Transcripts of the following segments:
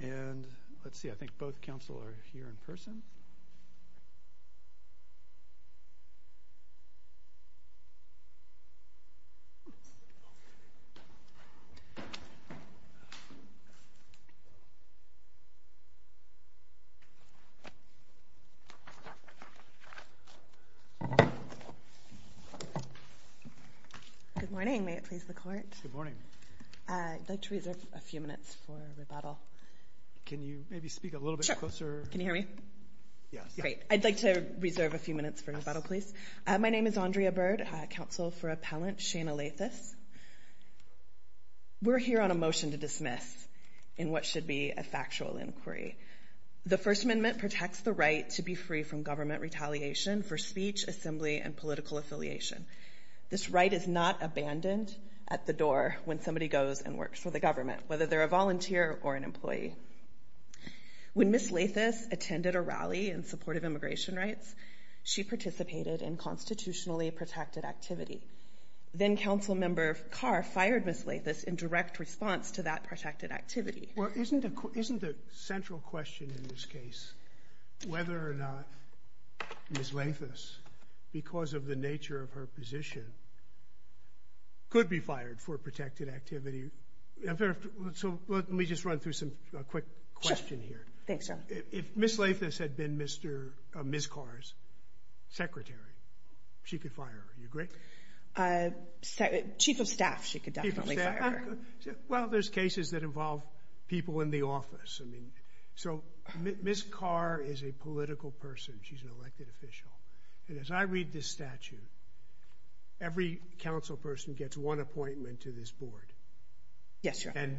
And let's see, I think both council are here in person. Good morning, may it please the court? Good morning. I'd like to reserve a few minutes for rebuttal. Can you maybe speak a little bit closer? Can you hear me? Yes. Great. I'd like to reserve a few minutes for rebuttal, please. My name is Andrea Bird, counsel for appellant Shayna Lathus. We're here on a motion to dismiss in what should be a factual inquiry. The First Amendment protects the right to be free from government retaliation for speech, assembly and political affiliation. This right is not abandoned at the door when somebody goes and works for the government, whether they're a volunteer or an employee. When Ms. Lathus attended a rally in support of immigration rights, she participated in constitutionally protected activity. Then council member Carr fired Ms. Lathus in direct response to that protected activity. Well, isn't isn't the central question in this case whether or not Ms. Lathus' position could be fired for protected activity? So let me just run through some quick question here. Thanks. If Ms. Lathus had been Mr. Ms. Carr's secretary, she could fire her, you agree? Chief of staff, she could definitely fire her. Well, there's cases that involve people in the office. I mean, so Ms. Carr is a political person. She's an elected official. And as I read this statute. Every council person gets one appointment to this board. Yes. And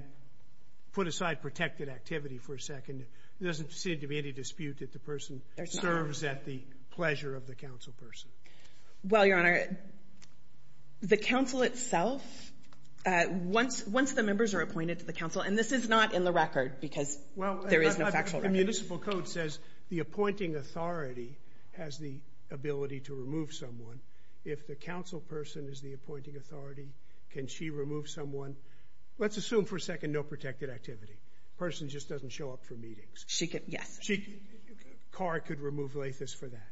put aside protected activity for a second. There doesn't seem to be any dispute that the person serves at the pleasure of the council person. Well, Your Honor, the council itself, once once the members are appointed to the council, and this is not in the record because well, there is no factual. The municipal code says the appointing authority has the ability to remove someone. If the council person is the appointing authority, can she remove someone? Let's assume for a second, no protected activity. Person just doesn't show up for meetings. She could. Yes, she could. Carr could remove Lathus for that.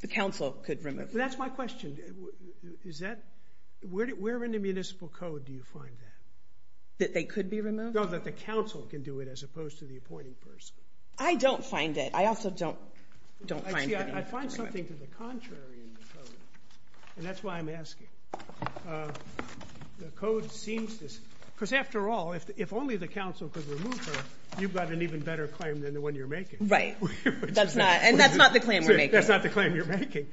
The council could remove. That's my question. Is that where we're in the municipal code? Do you find that? That they could be removed? No, that the council can do it as opposed to the appointing person. I don't find it. I also don't don't. I find something to the contrary. And that's why I'm asking the code seems this because after all, if only the council could remove her, you've got an even better claim than the one you're making. Right. That's not and that's not the claim. That's not the claim you're making.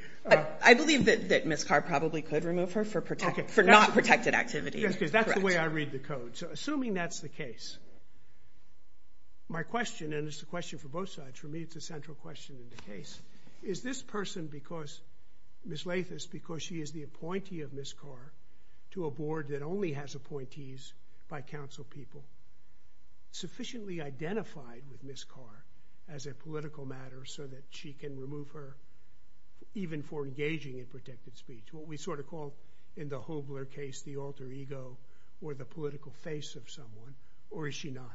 I believe that Ms. Carr probably could remove her for protection for not protected activity, because that's the way I read the code. So assuming that's the case. My question, and it's a question for both sides, for me, it's a central question in the case, is this person because Ms. Lathus, because she is the appointee of Ms. Carr to a board that only has appointees by council people. Sufficiently identified with Ms. Carr as a political matter so that she can remove her even for engaging in protected speech, what we sort of call in the Hoogler case, the alter ego or the political face of someone. Or is she not?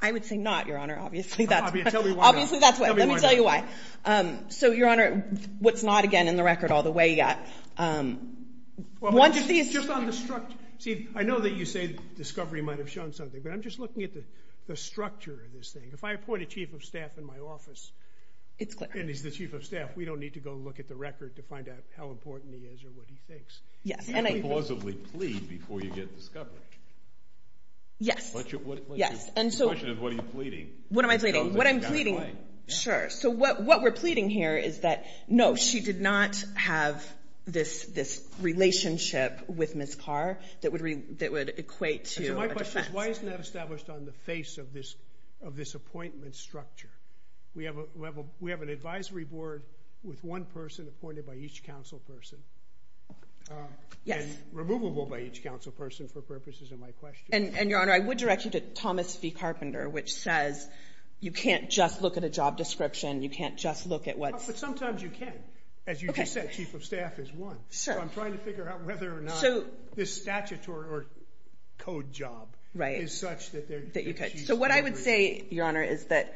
I would say not, Your Honor. Obviously, that's obvious. Obviously, that's why. Let me tell you why. So, Your Honor, what's not again in the record all the way yet? Well, one of these is just on the structure. See, I know that you say discovery might have shown something, but I'm just looking at the structure of this thing. If I appoint a chief of staff in my office, it's clear. And he's the chief of staff. We don't need to go look at the record to find out how important he is or what he thinks. Yes. And I plausibly plead before you get discovered. Yes. Yes. And so what are you pleading? What am I pleading? What I'm pleading? Sure. So what what we're pleading here is that, no, she did not have this this relationship with Ms. Carr that would that would equate to my question. Why isn't that established on the face of this of this appointment structure? We have a level. We have an advisory board with one person appointed by each council person. Oh, yes. Removable by each council person for purposes of my question. And your honor, I would direct you to Thomas V. Carpenter, which says you can't just look at a job description. You can't just look at what. But sometimes you can. As you said, chief of staff is one. So I'm trying to figure out whether or not. So this statutory or code job. Right. Is such that that you could. So what I would say, your honor, is that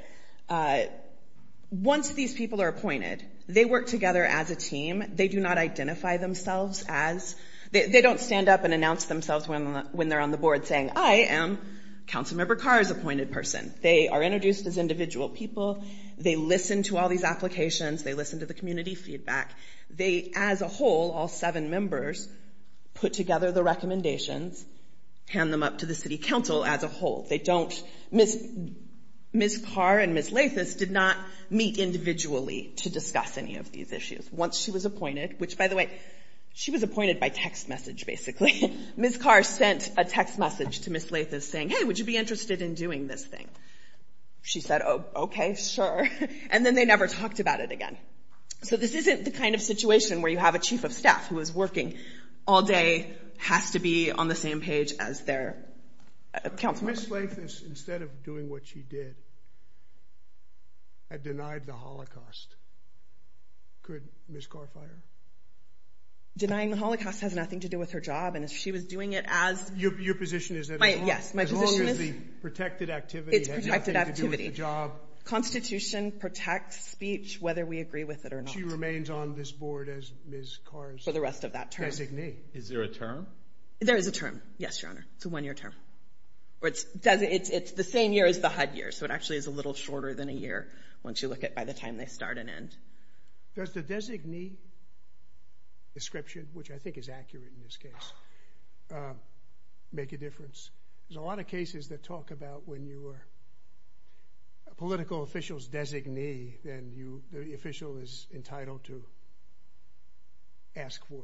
once these people are appointed, they work together as a team. They do not identify themselves as they don't stand up and announce themselves when when they're on the board saying, I am Councilmember Carr's appointed person. They are introduced as individual people. They listen to all these applications. They listen to the community feedback. They as a whole, all seven members put together the recommendations, hand them up to the city council as a whole. They don't miss Ms. Carr and Ms. Lathis did not meet individually to discuss any of these issues. Once she was appointed, which, by the way, she was appointed by text message. Basically, Ms. Carr sent a text message to Ms. Lathis saying, hey, would you be interested in doing this thing? She said, oh, OK, sure. And then they never talked about it again. So this isn't the kind of situation where you have a chief of staff who is working all day, has to be on the same page as their council. Ms. Lathis, instead of doing what she did. Had denied the Holocaust. Could Ms. Carr fire? Denying the Holocaust has nothing to do with her job. And if she was doing it as your position, is that? Yes, my position is the protected activity. It's protected activity job. Constitution protects speech, whether we agree with it or not. She remains on this board as Ms. Carr for the rest of that term. Is there a term? There is a term. Yes, your honor. It's a one year term or it's it's the same year as the HUD year. So it actually is a little shorter than a year. Once you look at by the time they start and end. Does the designee description, which I think is accurate in this case, make a difference? There's a lot of cases that talk about when you are. Political officials designee, then you, the official is entitled to. Ask for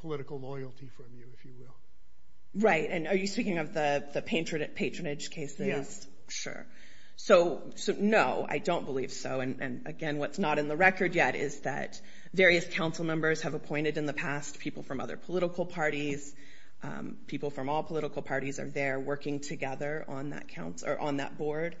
political loyalty from you, if you will. Right. And are you speaking of the patronage cases? Yes, sure. So no, I don't believe so. And again, what's not in the record yet is that various council members have appointed in the past people from other political parties, people from all political parties are there working together on that council or on that board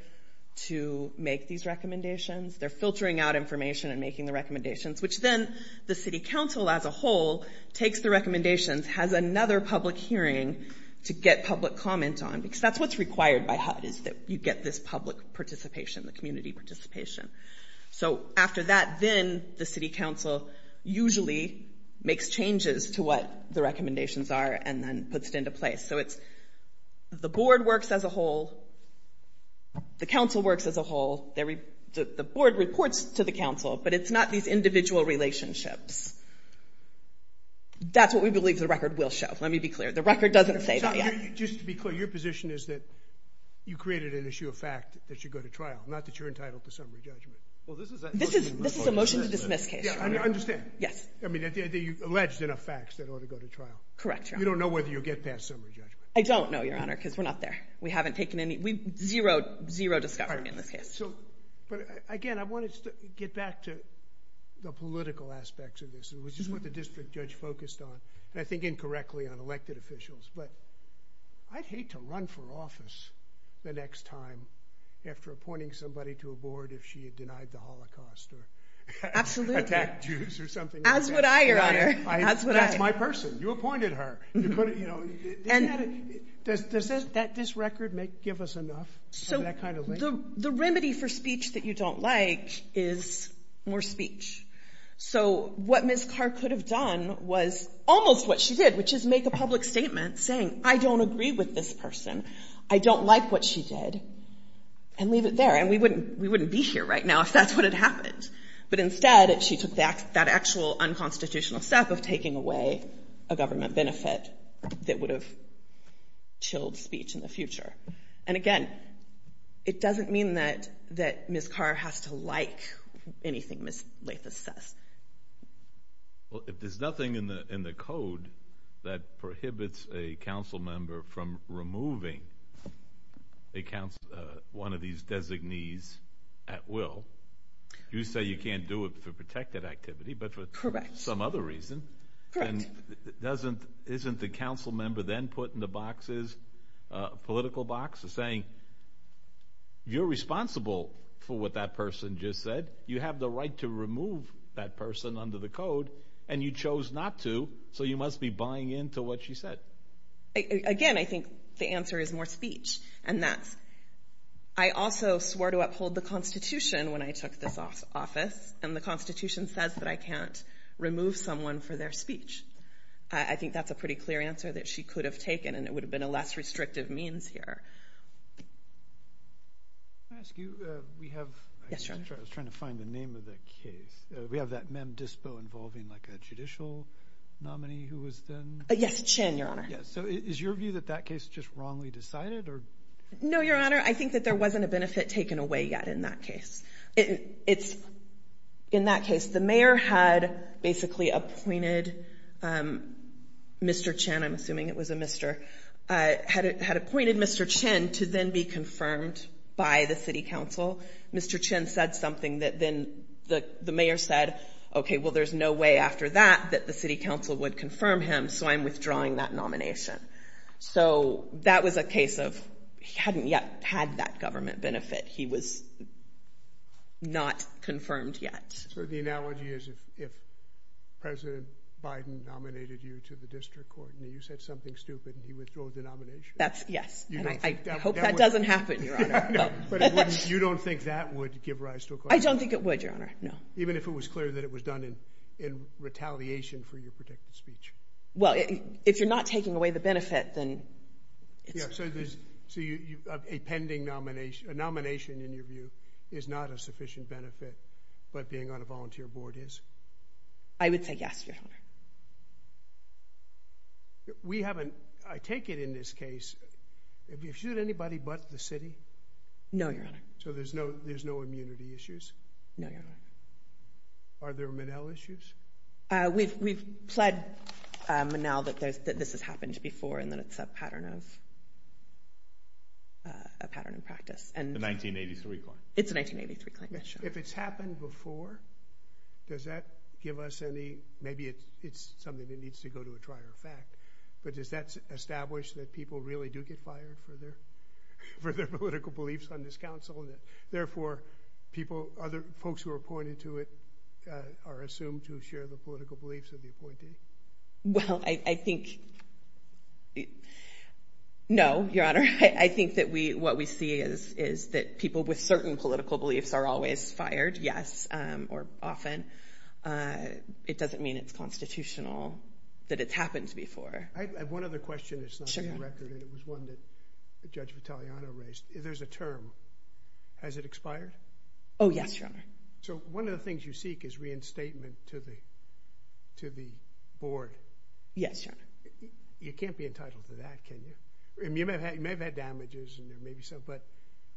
to make these recommendations. They're filtering out information and making the recommendations, which then the city council as a whole takes the recommendations, has another public hearing to get public comment on, because that's what's required by HUD is that you get this public participation, the community participation. So after that, then the city council usually makes changes to what the recommendations are and then puts it into place. So it's the board works as a whole. The council works as a whole, the board reports to the council, but it's not these individual relationships. That's what we believe the record will show. Let me be clear, the record doesn't say that yet. Just to be clear, your position is that you created an issue of fact that should go to trial, not that you're entitled to summary judgment. Well, this is a motion to dismiss case. Yeah, I understand. Yes. I mean, they alleged enough facts that ought to go to trial. Correct. You don't know whether you'll get past summary judgment. I don't know, Your Honor, because we're not there. We haven't taken any zero, zero discovery in this case. So again, I want to get back to the political aspects of this, which is what the district judge focused on, and I think incorrectly on elected officials. But I'd hate to run for office the next time after appointing somebody to a board if she had denied the Holocaust or attacked Jews or something like that. Absolutely. As would I, Your Honor. That's my person. You appointed her. Does this record give us enough for that kind of thing? So the remedy for speech that you don't like is more speech. So what Ms Carr could have done was almost what she did, which is make a public statement saying, I don't agree with this person. I don't like what she did, and leave it there. And we wouldn't be here right now if that's what had happened. But instead, she took that actual unconstitutional step of taking away a government benefit that would have chilled speech in the future. And again, it doesn't mean that Ms Carr has to like anything that Ms Lathis says. Well, if there's nothing in the code that prohibits a council member from removing one of these designees at will, you say you can't do it for protected activity, but for some other reason. And isn't the council member then put in the boxes, political boxes, saying, you're responsible for what that person just said. You have the right to remove that person under the code, and you chose not to, so you must be buying into what she said. Again, I think the answer is more speech. And that's, I also swore to uphold the Constitution when I took this office, and the Constitution says that I can't remove someone for their speech. I think that's a pretty clear answer that she could have taken, and it would have been a less restrictive means here. Can I ask you, we have, I was trying to find the name of the case. We have that Mem Dispo involving like a judicial nominee who was then? Yes, Chen, Your Honor. So is your view that that case just wrongly decided? No, Your Honor, I think that there wasn't a benefit taken away yet in that case. In that case, the mayor had basically appointed Mr. Chen, I'm assuming it was a Mr., had appointed Mr. Chen to then be confirmed by the city council. Mr. Chen said something that then the mayor said, okay, well, there's no way after that that the city council would confirm him, so I'm withdrawing that nomination. So that was a case of he hadn't yet had that government benefit. He was not confirmed yet. So the analogy is if President Biden nominated you to the district court, and you said something stupid, he withdrew the nomination. That's, yes, and I hope that doesn't happen, Your Honor. You don't think that would give rise to a claim? I don't think it would, Your Honor, no. Even if it was clear that it was done in retaliation for your predicted speech? Well, if you're not taking away the benefit, then it's. So a pending nomination, a nomination in your view, is not a sufficient benefit, but being on a volunteer board is? I would say yes, Your Honor. We haven't, I take it in this case, have you sued anybody but the city? No, Your Honor. So there's no immunity issues? No, Your Honor. Are there Monell issues? We've pled Monell that this has happened before, and that it's a pattern of, a pattern of practice, and. The 1983 claim. It's a 1983 claim, yes, Your Honor. If it's happened before, does that give us any, maybe it's something that needs to go to a trier of fact, but does that establish that people really do get fired for their political beliefs on this council, and that therefore, other folks who are appointed to it are assumed to share the political beliefs of the appointee? Well, I think, no, Your Honor. I think that what we see is that people with certain political beliefs are always fired, yes, or often. It doesn't mean it's constitutional, that it's happened before. I have one other question that's not on the record, and it was one that Judge Vitaleano raised. There's a term, has it expired? Oh, yes, Your Honor. So one of the things you seek is reinstatement to the board. Yes, Your Honor. You can't be entitled to that, can you? I mean, you may have had damages, and there may be some, but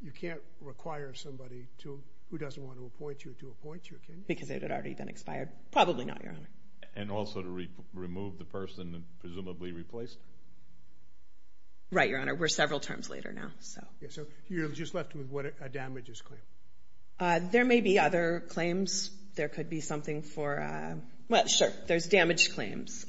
you can't require somebody to, who doesn't want to appoint you, to appoint you, can you? Because it had already been expired. Probably not, Your Honor. And also to remove the person, and presumably replace? Right, Your Honor. We're several terms later now, so. Yeah, so you're just left with what a damages claim. There may be other claims. There could be something for, well, sure, there's damaged claims.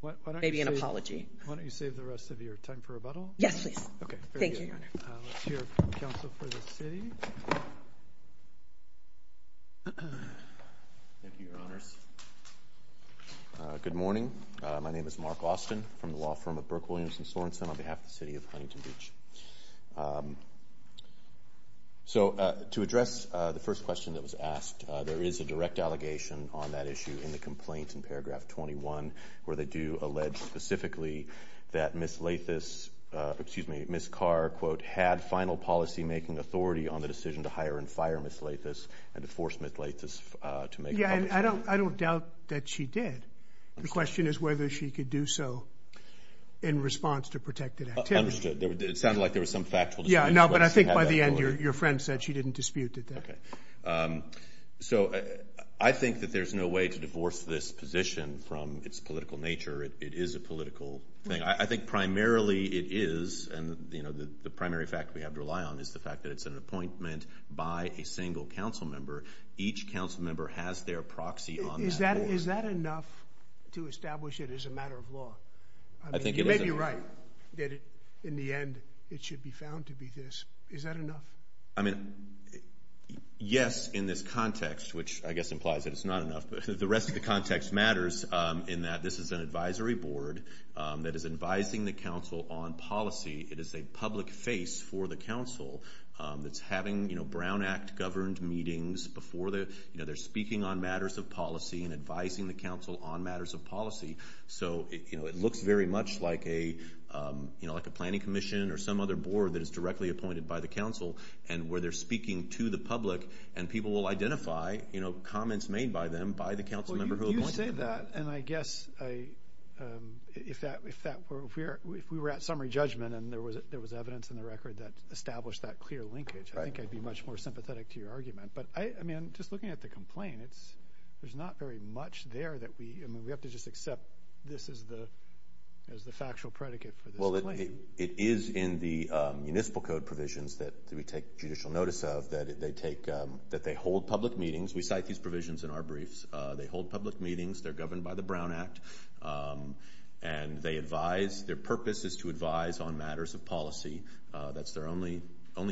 What, why don't you save? Maybe an apology. Why don't you save the rest of your time for rebuttal? Yes, please. Okay, very good. Thank you, Your Honor. Let's hear from counsel for the city. Thank you, Your Honors. Good morning. My name is Mark Austin from the law firm of Burke, Williams & Sorensen on behalf of the city of Huntington Beach. So, to address the first question that was asked, there is a direct allegation on that issue in the complaint in paragraph 21, where they do allege specifically that Ms. Carr, quote, had final policymaking authority on the decision to hire and fire Ms. Carr, Ms. Lathis, and to force Ms. Lathis to make a public statement. Yeah, and I don't doubt that she did. The question is whether she could do so in response to protected activity. Understood. It sounded like there was some factual dispute. Yeah, no, but I think by the end, your friend said she didn't dispute that. Okay. So, I think that there's no way to divorce this position from its political nature. It is a political thing. I think primarily it is, and the primary fact we have to rely on is the fact that it's an appointment by a single council member. Each council member has their proxy on that board. Is that enough to establish it as a matter of law? I think it is. You may be right that in the end it should be found to be this. Is that enough? I mean, yes, in this context, which I guess implies that it's not enough, but the rest of the context matters in that this is an advisory board that is advising the council on policy. It is a public face for the council that's having Brown Act governed meetings before they're speaking on matters of policy and advising the council on matters of policy. So, it looks very much like a planning commission or some other board that is directly appointed by the council and where they're speaking to the public and people will identify comments made by them by the council member who appointed them. You say that, and I guess if we were at summary judgment and there was evidence in the record that established that clear linkage, I think I'd be much more sympathetic to your argument. But, I mean, just looking at the complaint, there's not very much there that we... I mean, we have to just accept this as the factual predicate for this claim. Well, it is in the municipal code provisions that we take judicial notice of that they hold public meetings. We cite these provisions in our briefs. They hold public meetings. They're governed by the Brown Act. And they advise... Their purpose is to advise on matters of policy. That's their only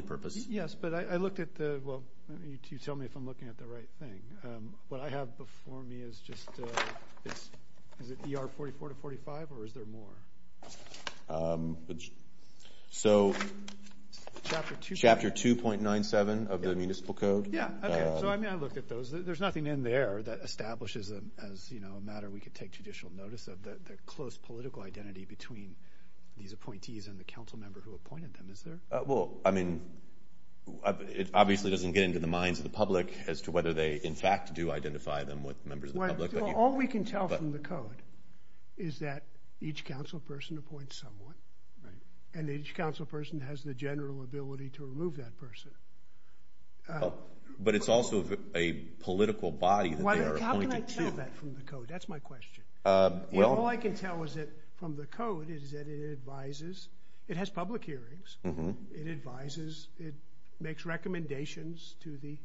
purpose. Yes, but I looked at the... Well, you tell me if I'm looking at the right thing. What I have before me is just... Is it ER 44 to 45, or is there more? So, chapter 2.97 of the municipal code. Yeah, okay. So, I mean, I looked at those. There's nothing in there that establishes them as a matter we could take judicial notice of. The close political identity between these appointees and the council member who appointed them, is there? Well, I mean, it obviously doesn't get into the minds of the public as to whether they, in fact, do identify them with members of the public. All we can tell from the code is that each council person appoints someone, and each council person has the general ability to remove that person. But it's also a political body that they're appointed to. How can I tell that from the code? That's my question. Well... All I can tell from the code is that it advises... It has public hearings. It advises, it makes recommendations to the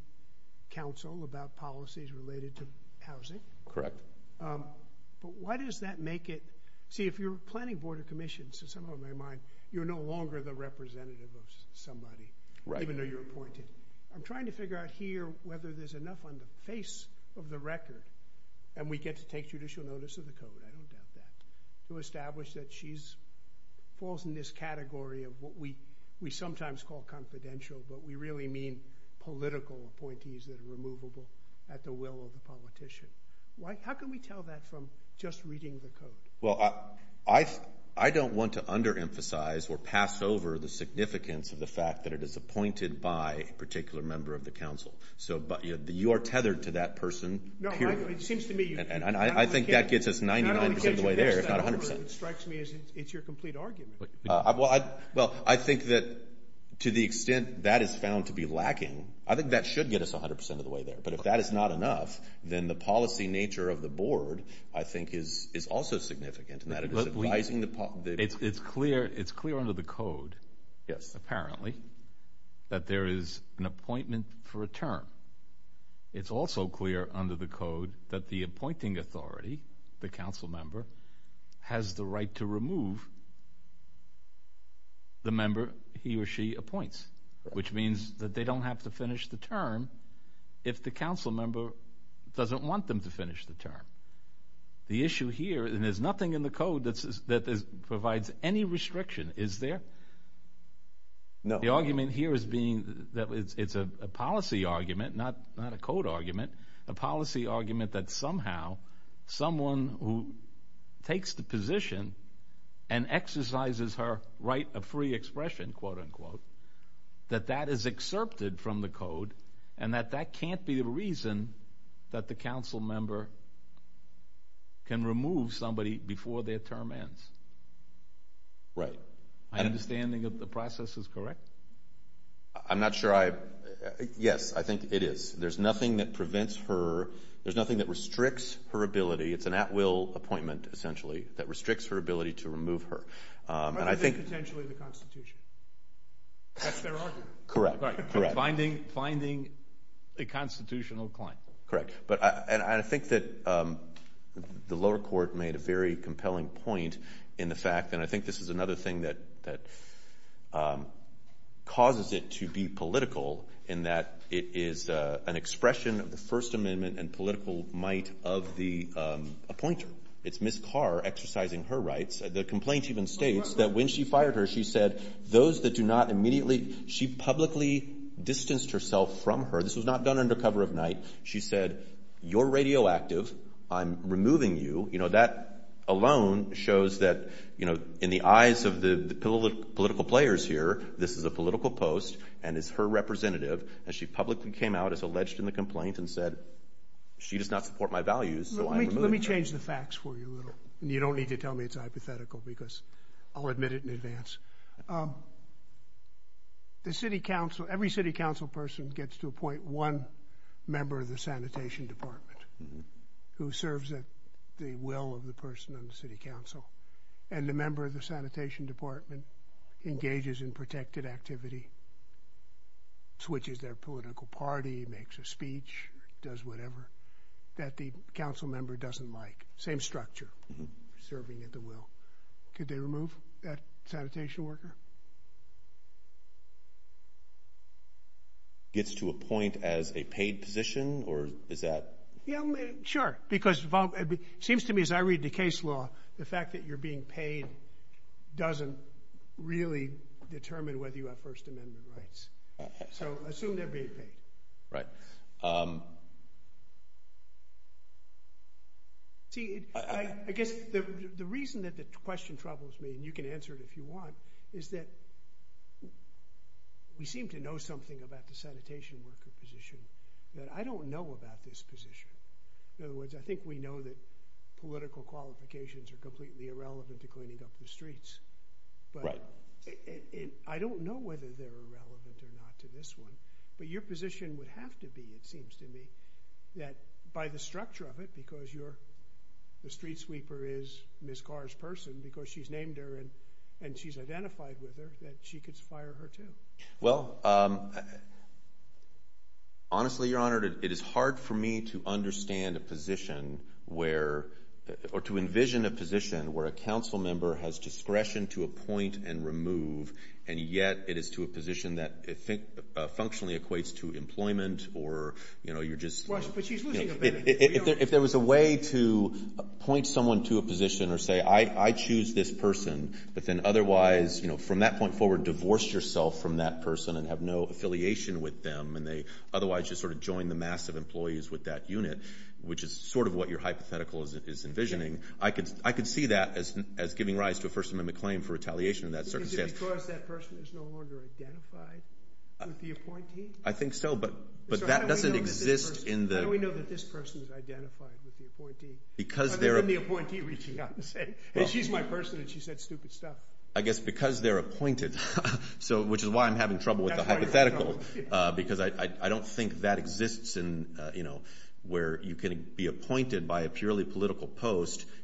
council about policies related to housing. Correct. But why does that make it... See, if you're planning board of commissions, in some of my mind, you're no longer the representative of somebody, even though you're appointed. I'm trying to figure out here whether there's enough on the face of the record, and we get to take judicial notice of the code. I don't doubt that. To establish that she falls in this category of what we sometimes call confidential, but we really mean political appointees that are removable at the will of the politician. How can we tell that from just reading the code? Well, I don't want to under-emphasize or pass over the significance of the fact that it is appointed by a particular member of the council. So, you are tethered to that person. No, it seems to me... And I think that gets us 99% of the way there. If not 100%. It strikes me as it's your complete argument. Well, I think that to the extent that is found to be lacking, I think that should get us 100% of the way there. But if that is not enough, then the policy nature of the board, I think, is also significant in that it is advising the... It's clear under the code, apparently, that there is an appointment for a term. It's also clear under the code that the appointing authority, the council member, has the right to remove the member he or she appoints, which means that they don't have to finish the term if the council member doesn't want them to finish the term. The issue here, and there's nothing in the code that provides any restriction, is there? No. The argument here is being that it's a policy argument, not a code argument, a policy argument that somehow someone who takes the position and exercises her right of free expression, quote-unquote, that that is excerpted from the code and that that can't be the reason that the council member can remove somebody before their term ends. Right. My understanding of the process is correct? I'm not sure I... Yes, I think it is. There's nothing that prevents her... There's nothing that restricts her ability. It's an at-will appointment, essentially, that restricts her ability to remove her. And I think- But is it potentially the Constitution? That's their argument. Correct. Finding a constitutional claim. Correct. And I think that the lower court made a very compelling point in the fact, and I think this is another thing that causes it to be political in that it is an expression of the First Amendment and political might of the appointer. It's Ms. Carr exercising her rights. The complaint even states that when she fired her, she said those that do not immediately... She publicly distanced herself from her. This was not done under cover of night. She said, you're radioactive. I'm removing you. That alone shows that in the eyes of the political players here, And she publicly came out as alleged in the complaint and said, she does not support my values, so I'm removing her. Let me change the facts for you a little. You don't need to tell me it's hypothetical because I'll admit it in advance. The city council, every city council person gets to appoint one member of the sanitation department who serves at the will of the person on the city council. And the member of the sanitation department engages in protected activity, switches their political party, makes a speech, does whatever, that the council member doesn't like. Same structure, serving at the will. Could they remove that sanitation worker? Gets to appoint as a paid position or is that? Yeah, sure, because it seems to me as I read the case law, the fact that you're being paid doesn't really determine whether you have first amendment rights. So assume they're being paid. Right. See, I guess the reason that the question troubles me, and you can answer it if you want, is that we seem to know something about the sanitation worker position that I don't know about this position. In other words, I think we know that political qualifications are completely irrelevant to cleaning up the streets. Right. I don't know whether they're relevant or not to this one, but your position would have to be, it seems to me, that by the structure of it, because the street sweeper is Ms. Carr's person, because she's named her and she's identified with her, that she could fire her too. Well, honestly, Your Honor, it is hard for me to understand a position where, or to envision a position where a council member has discretion to appoint and remove, and yet it is to a position that functionally equates to employment, or you're just... Right, but she's losing a benefit. If there was a way to point someone to a position or say, I choose this person, but then otherwise, from that point forward, divorce yourself from that person and have no affiliation with them, and they otherwise just sort of join the mass of employees with that unit, which is sort of what your hypothetical is envisioning, I could see that as giving rise to a First Amendment claim for retaliation in that circumstance. Is it because that person is no longer identified with the appointee? I think so, but that doesn't exist in the... How do we know that this person is identified with the appointee? Because they're... Other than the appointee reaching out and saying, she's my person and she said stupid stuff. I guess because they're appointed, which is why I'm having trouble with the hypothetical, because I don't think that exists in, you know,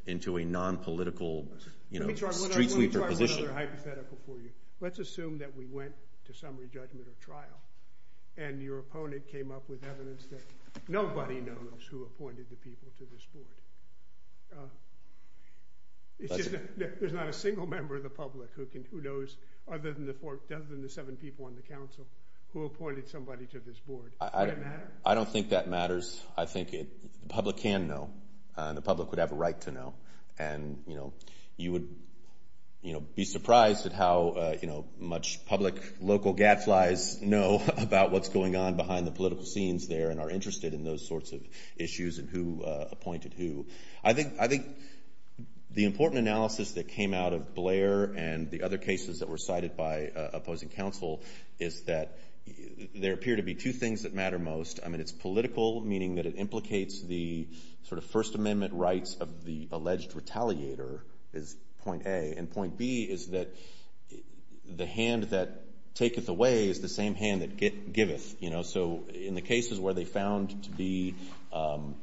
into a non-political, you know, streetsweeper position. Let me try another hypothetical for you. Let's assume that we went to summary judgment or trial and your opponent came up with evidence that nobody knows who appointed the people to this board. It's just that there's not a single member of the public who knows, other than the seven people on the council, who appointed somebody to this board. Would it matter? I don't think that matters. I think the public can know. The public would have a right to know. And, you know, you would be surprised at how, you know, much public local gadflies know about what's going on behind the political scenes there and are interested in those sorts of issues and who appointed who. I think the important analysis that came out of Blair and the other cases that were cited by opposing council is that there appear to be two things that matter most. I mean, it's political, meaning that it implicates the sort of First Amendment rights of the alleged retaliator is point A. And point B is that the hand that taketh away is the same hand that giveth, you know? So in the cases where they found to be, you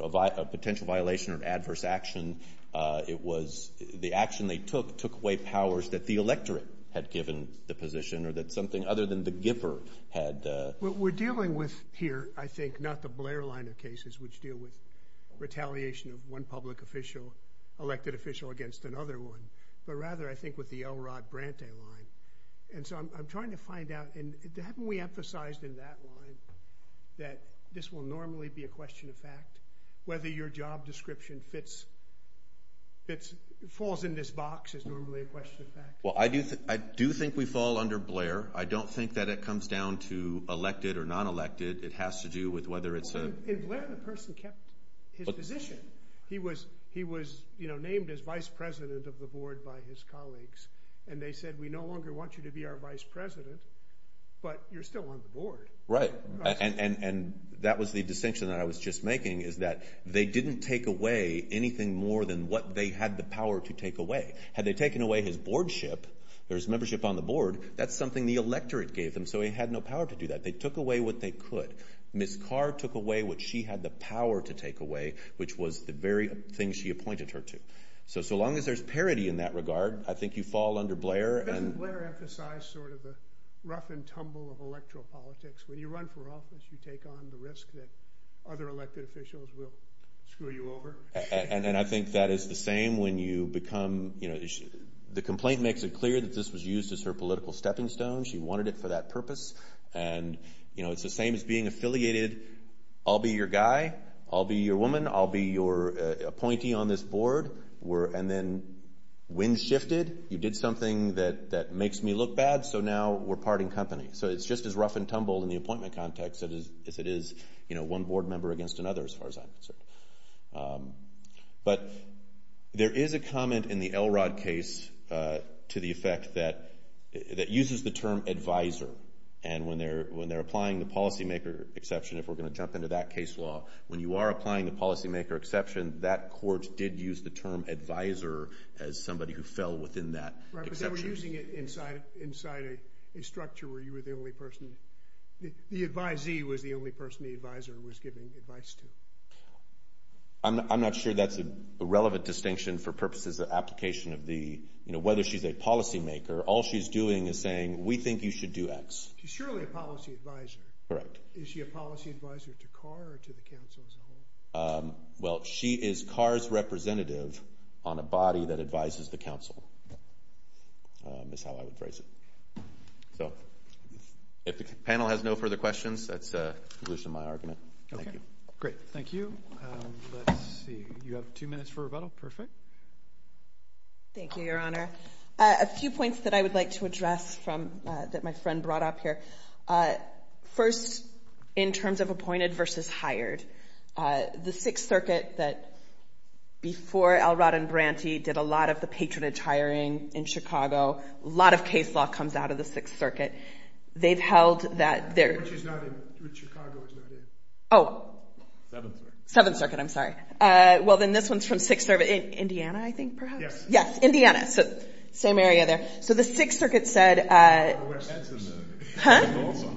know, a potential violation or an adverse action, it was the action they took took away powers that the electorate had given the position or that something other than the giver had. What we're dealing with here, I think, not the Blair line of cases, which deal with retaliation of one public official, elected official against another one, but rather, I think, with the L. Rod Brante line. And so I'm trying to find out, and haven't we emphasized in that line that this will normally be a question of fact? Whether your job description fits, falls in this box is normally a question of fact? Well, I do think we fall under Blair. I don't think that it comes down to elected or non-elected. It has to do with whether it's a- In Blair, the person kept his position. He was, you know, named as vice president of the board by his colleagues. And they said, we no longer want you to be our vice president, but you're still on the board. Right. And that was the distinction that I was just making, is that they didn't take away anything more than what they had the power to take away. Had they taken away his boardship, or his membership on the board, that's something the electorate gave them. So he had no power to do that. They took away what they could. Ms. Carr took away what she had the power to take away, which was the very thing she appointed her to. So, so long as there's parity in that regard, I think you fall under Blair. Doesn't Blair emphasize sort of the rough and tumble of electoral politics? When you run for office, you take on the risk that other elected officials will screw you over. And I think that is the same when you become, you know, the complaint makes it clear that this was used as her political stepping stone. She wanted it for that purpose. And, you know, it's the same as being affiliated. I'll be your guy. I'll be your woman. I'll be your appointee on this board. We're, and then, wind shifted. You did something that makes me look bad, so now we're part in company. So it's just as rough and tumble in the appointment context as it is, you know, one board member against another, as far as I'm concerned. But there is a comment in the Elrod case to the effect that, that uses the term advisor. And when they're applying the policymaker exception, if we're gonna jump into that case law, when you are applying the policymaker exception, that court did use the term advisor as somebody who fell within that exception. Right, but they were using it inside a structure where you were the only person, the advisee was the only person the advisor was giving advice to. I'm not sure that's a relevant distinction for purposes of application of the, you know, whether she's a policymaker. All she's doing is saying, we think you should do X. She's surely a policy advisor. Correct. Is she a policy advisor to Carr or to the council as a whole? Well, she is Carr's representative on a body that advises the council. That's how I would phrase it. So, if the panel has no further questions, that's a conclusion to my argument. Okay, great, thank you. Let's see, you have two minutes for rebuttal, perfect. Thank you, Your Honor. A few points that I would like to address from, that my friend brought up here. First, in terms of appointed versus hired. The Sixth Circuit that, before Elrod and Branty did a lot of the patronage hiring in Chicago, a lot of case law comes out of the Sixth Circuit. They've held that they're- Which is not in, which Chicago is not in. Oh. Seventh Circuit. Seventh Circuit, I'm sorry. Well, then this one's from Sixth Circuit, Indiana, I think, perhaps? Yes, Indiana, so, same area there. So, the Sixth Circuit said- Where's that in the- Huh?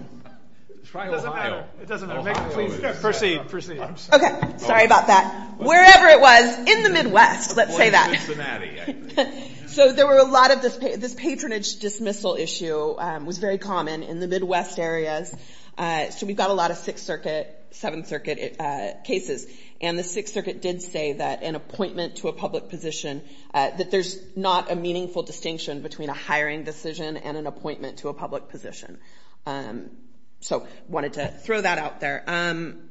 Try Ohio. It doesn't matter, it doesn't matter. Make it, please, proceed, proceed. Okay, sorry about that. Wherever it was, in the Midwest, let's say that. So, there were a lot of, this patronage dismissal issue was very common in the Midwest areas. So, we've got a lot of Sixth Circuit, Seventh Circuit cases. And the Sixth Circuit did say that an appointment to a public position, that there's not a meaningful distinction between a hiring decision and an appointment to a public position. So, wanted to throw that out there.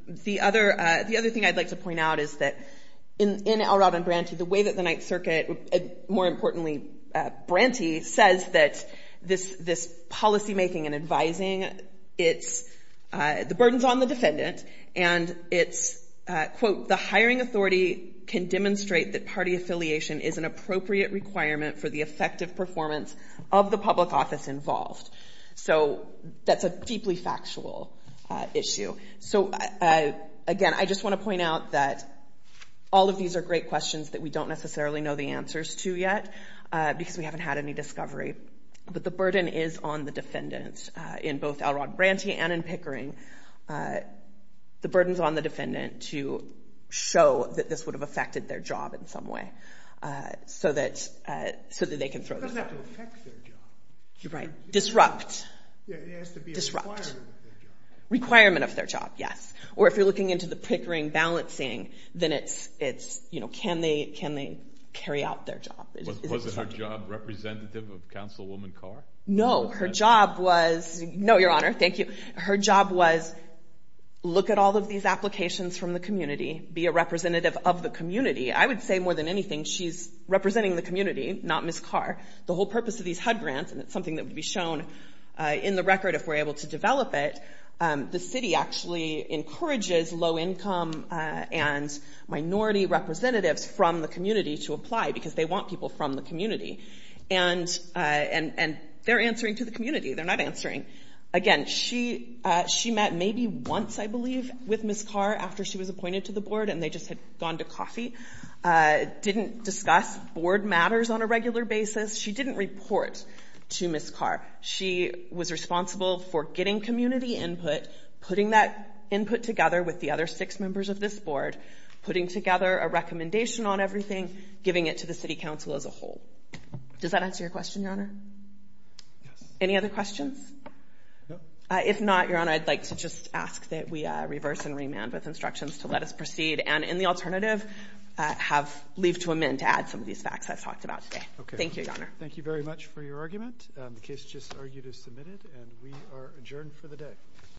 The other thing I'd like to point out is that in Elrod and Branty, the way that the Ninth Circuit, more importantly, Branty, says that this policymaking and advising, the burden's on the defendant, and it's, quote, the hiring authority can demonstrate that party affiliation is an appropriate requirement for the effective performance of the public office involved. So, that's a deeply factual issue. So, again, I just want to point out that all of these are great questions that we don't necessarily know the answers to yet, because we haven't had any discovery. But the burden is on the defendant, in both Elrod Branty and in Pickering. The burden's on the defendant to show that this would have affected their job in some way, so that they can throw this out. It doesn't have to affect their job. Right, disrupt. Yeah, it has to be a requirement of their job. Requirement of their job, yes. Or if you're looking into the Pickering balancing, then it's, you know, can they carry out their job? Was it her job representative of Councilwoman Carr? No, her job was, no, Your Honor, thank you. Her job was, look at all of these applications from the community, be a representative of the community. I would say, more than anything, she's representing the community, not Ms. Carr. The whole purpose of these HUD grants, and it's something that would be shown in the record if we're able to develop it, the city actually encourages low-income and minority representatives from the community to apply, because they want people from the community. And they're answering to the community. They're not answering. Again, she met maybe once, I believe, with Ms. Carr after she was appointed to the board and they just had gone to coffee. Didn't discuss board matters on a regular basis. She didn't report to Ms. Carr. She was responsible for getting community input, putting that input together with the other six members of this board, putting together a recommendation on everything, giving it to the city council as a whole. Does that answer your question, Your Honor? Yes. Any other questions? No. If not, Your Honor, I'd like to just ask that we reverse and remand with instructions to let us proceed. And in the alternative, leave to amend to add some of these facts I've talked about today. Okay. Thank you, Your Honor. Thank you very much for your argument. The case just argued is submitted and we are adjourned for the day.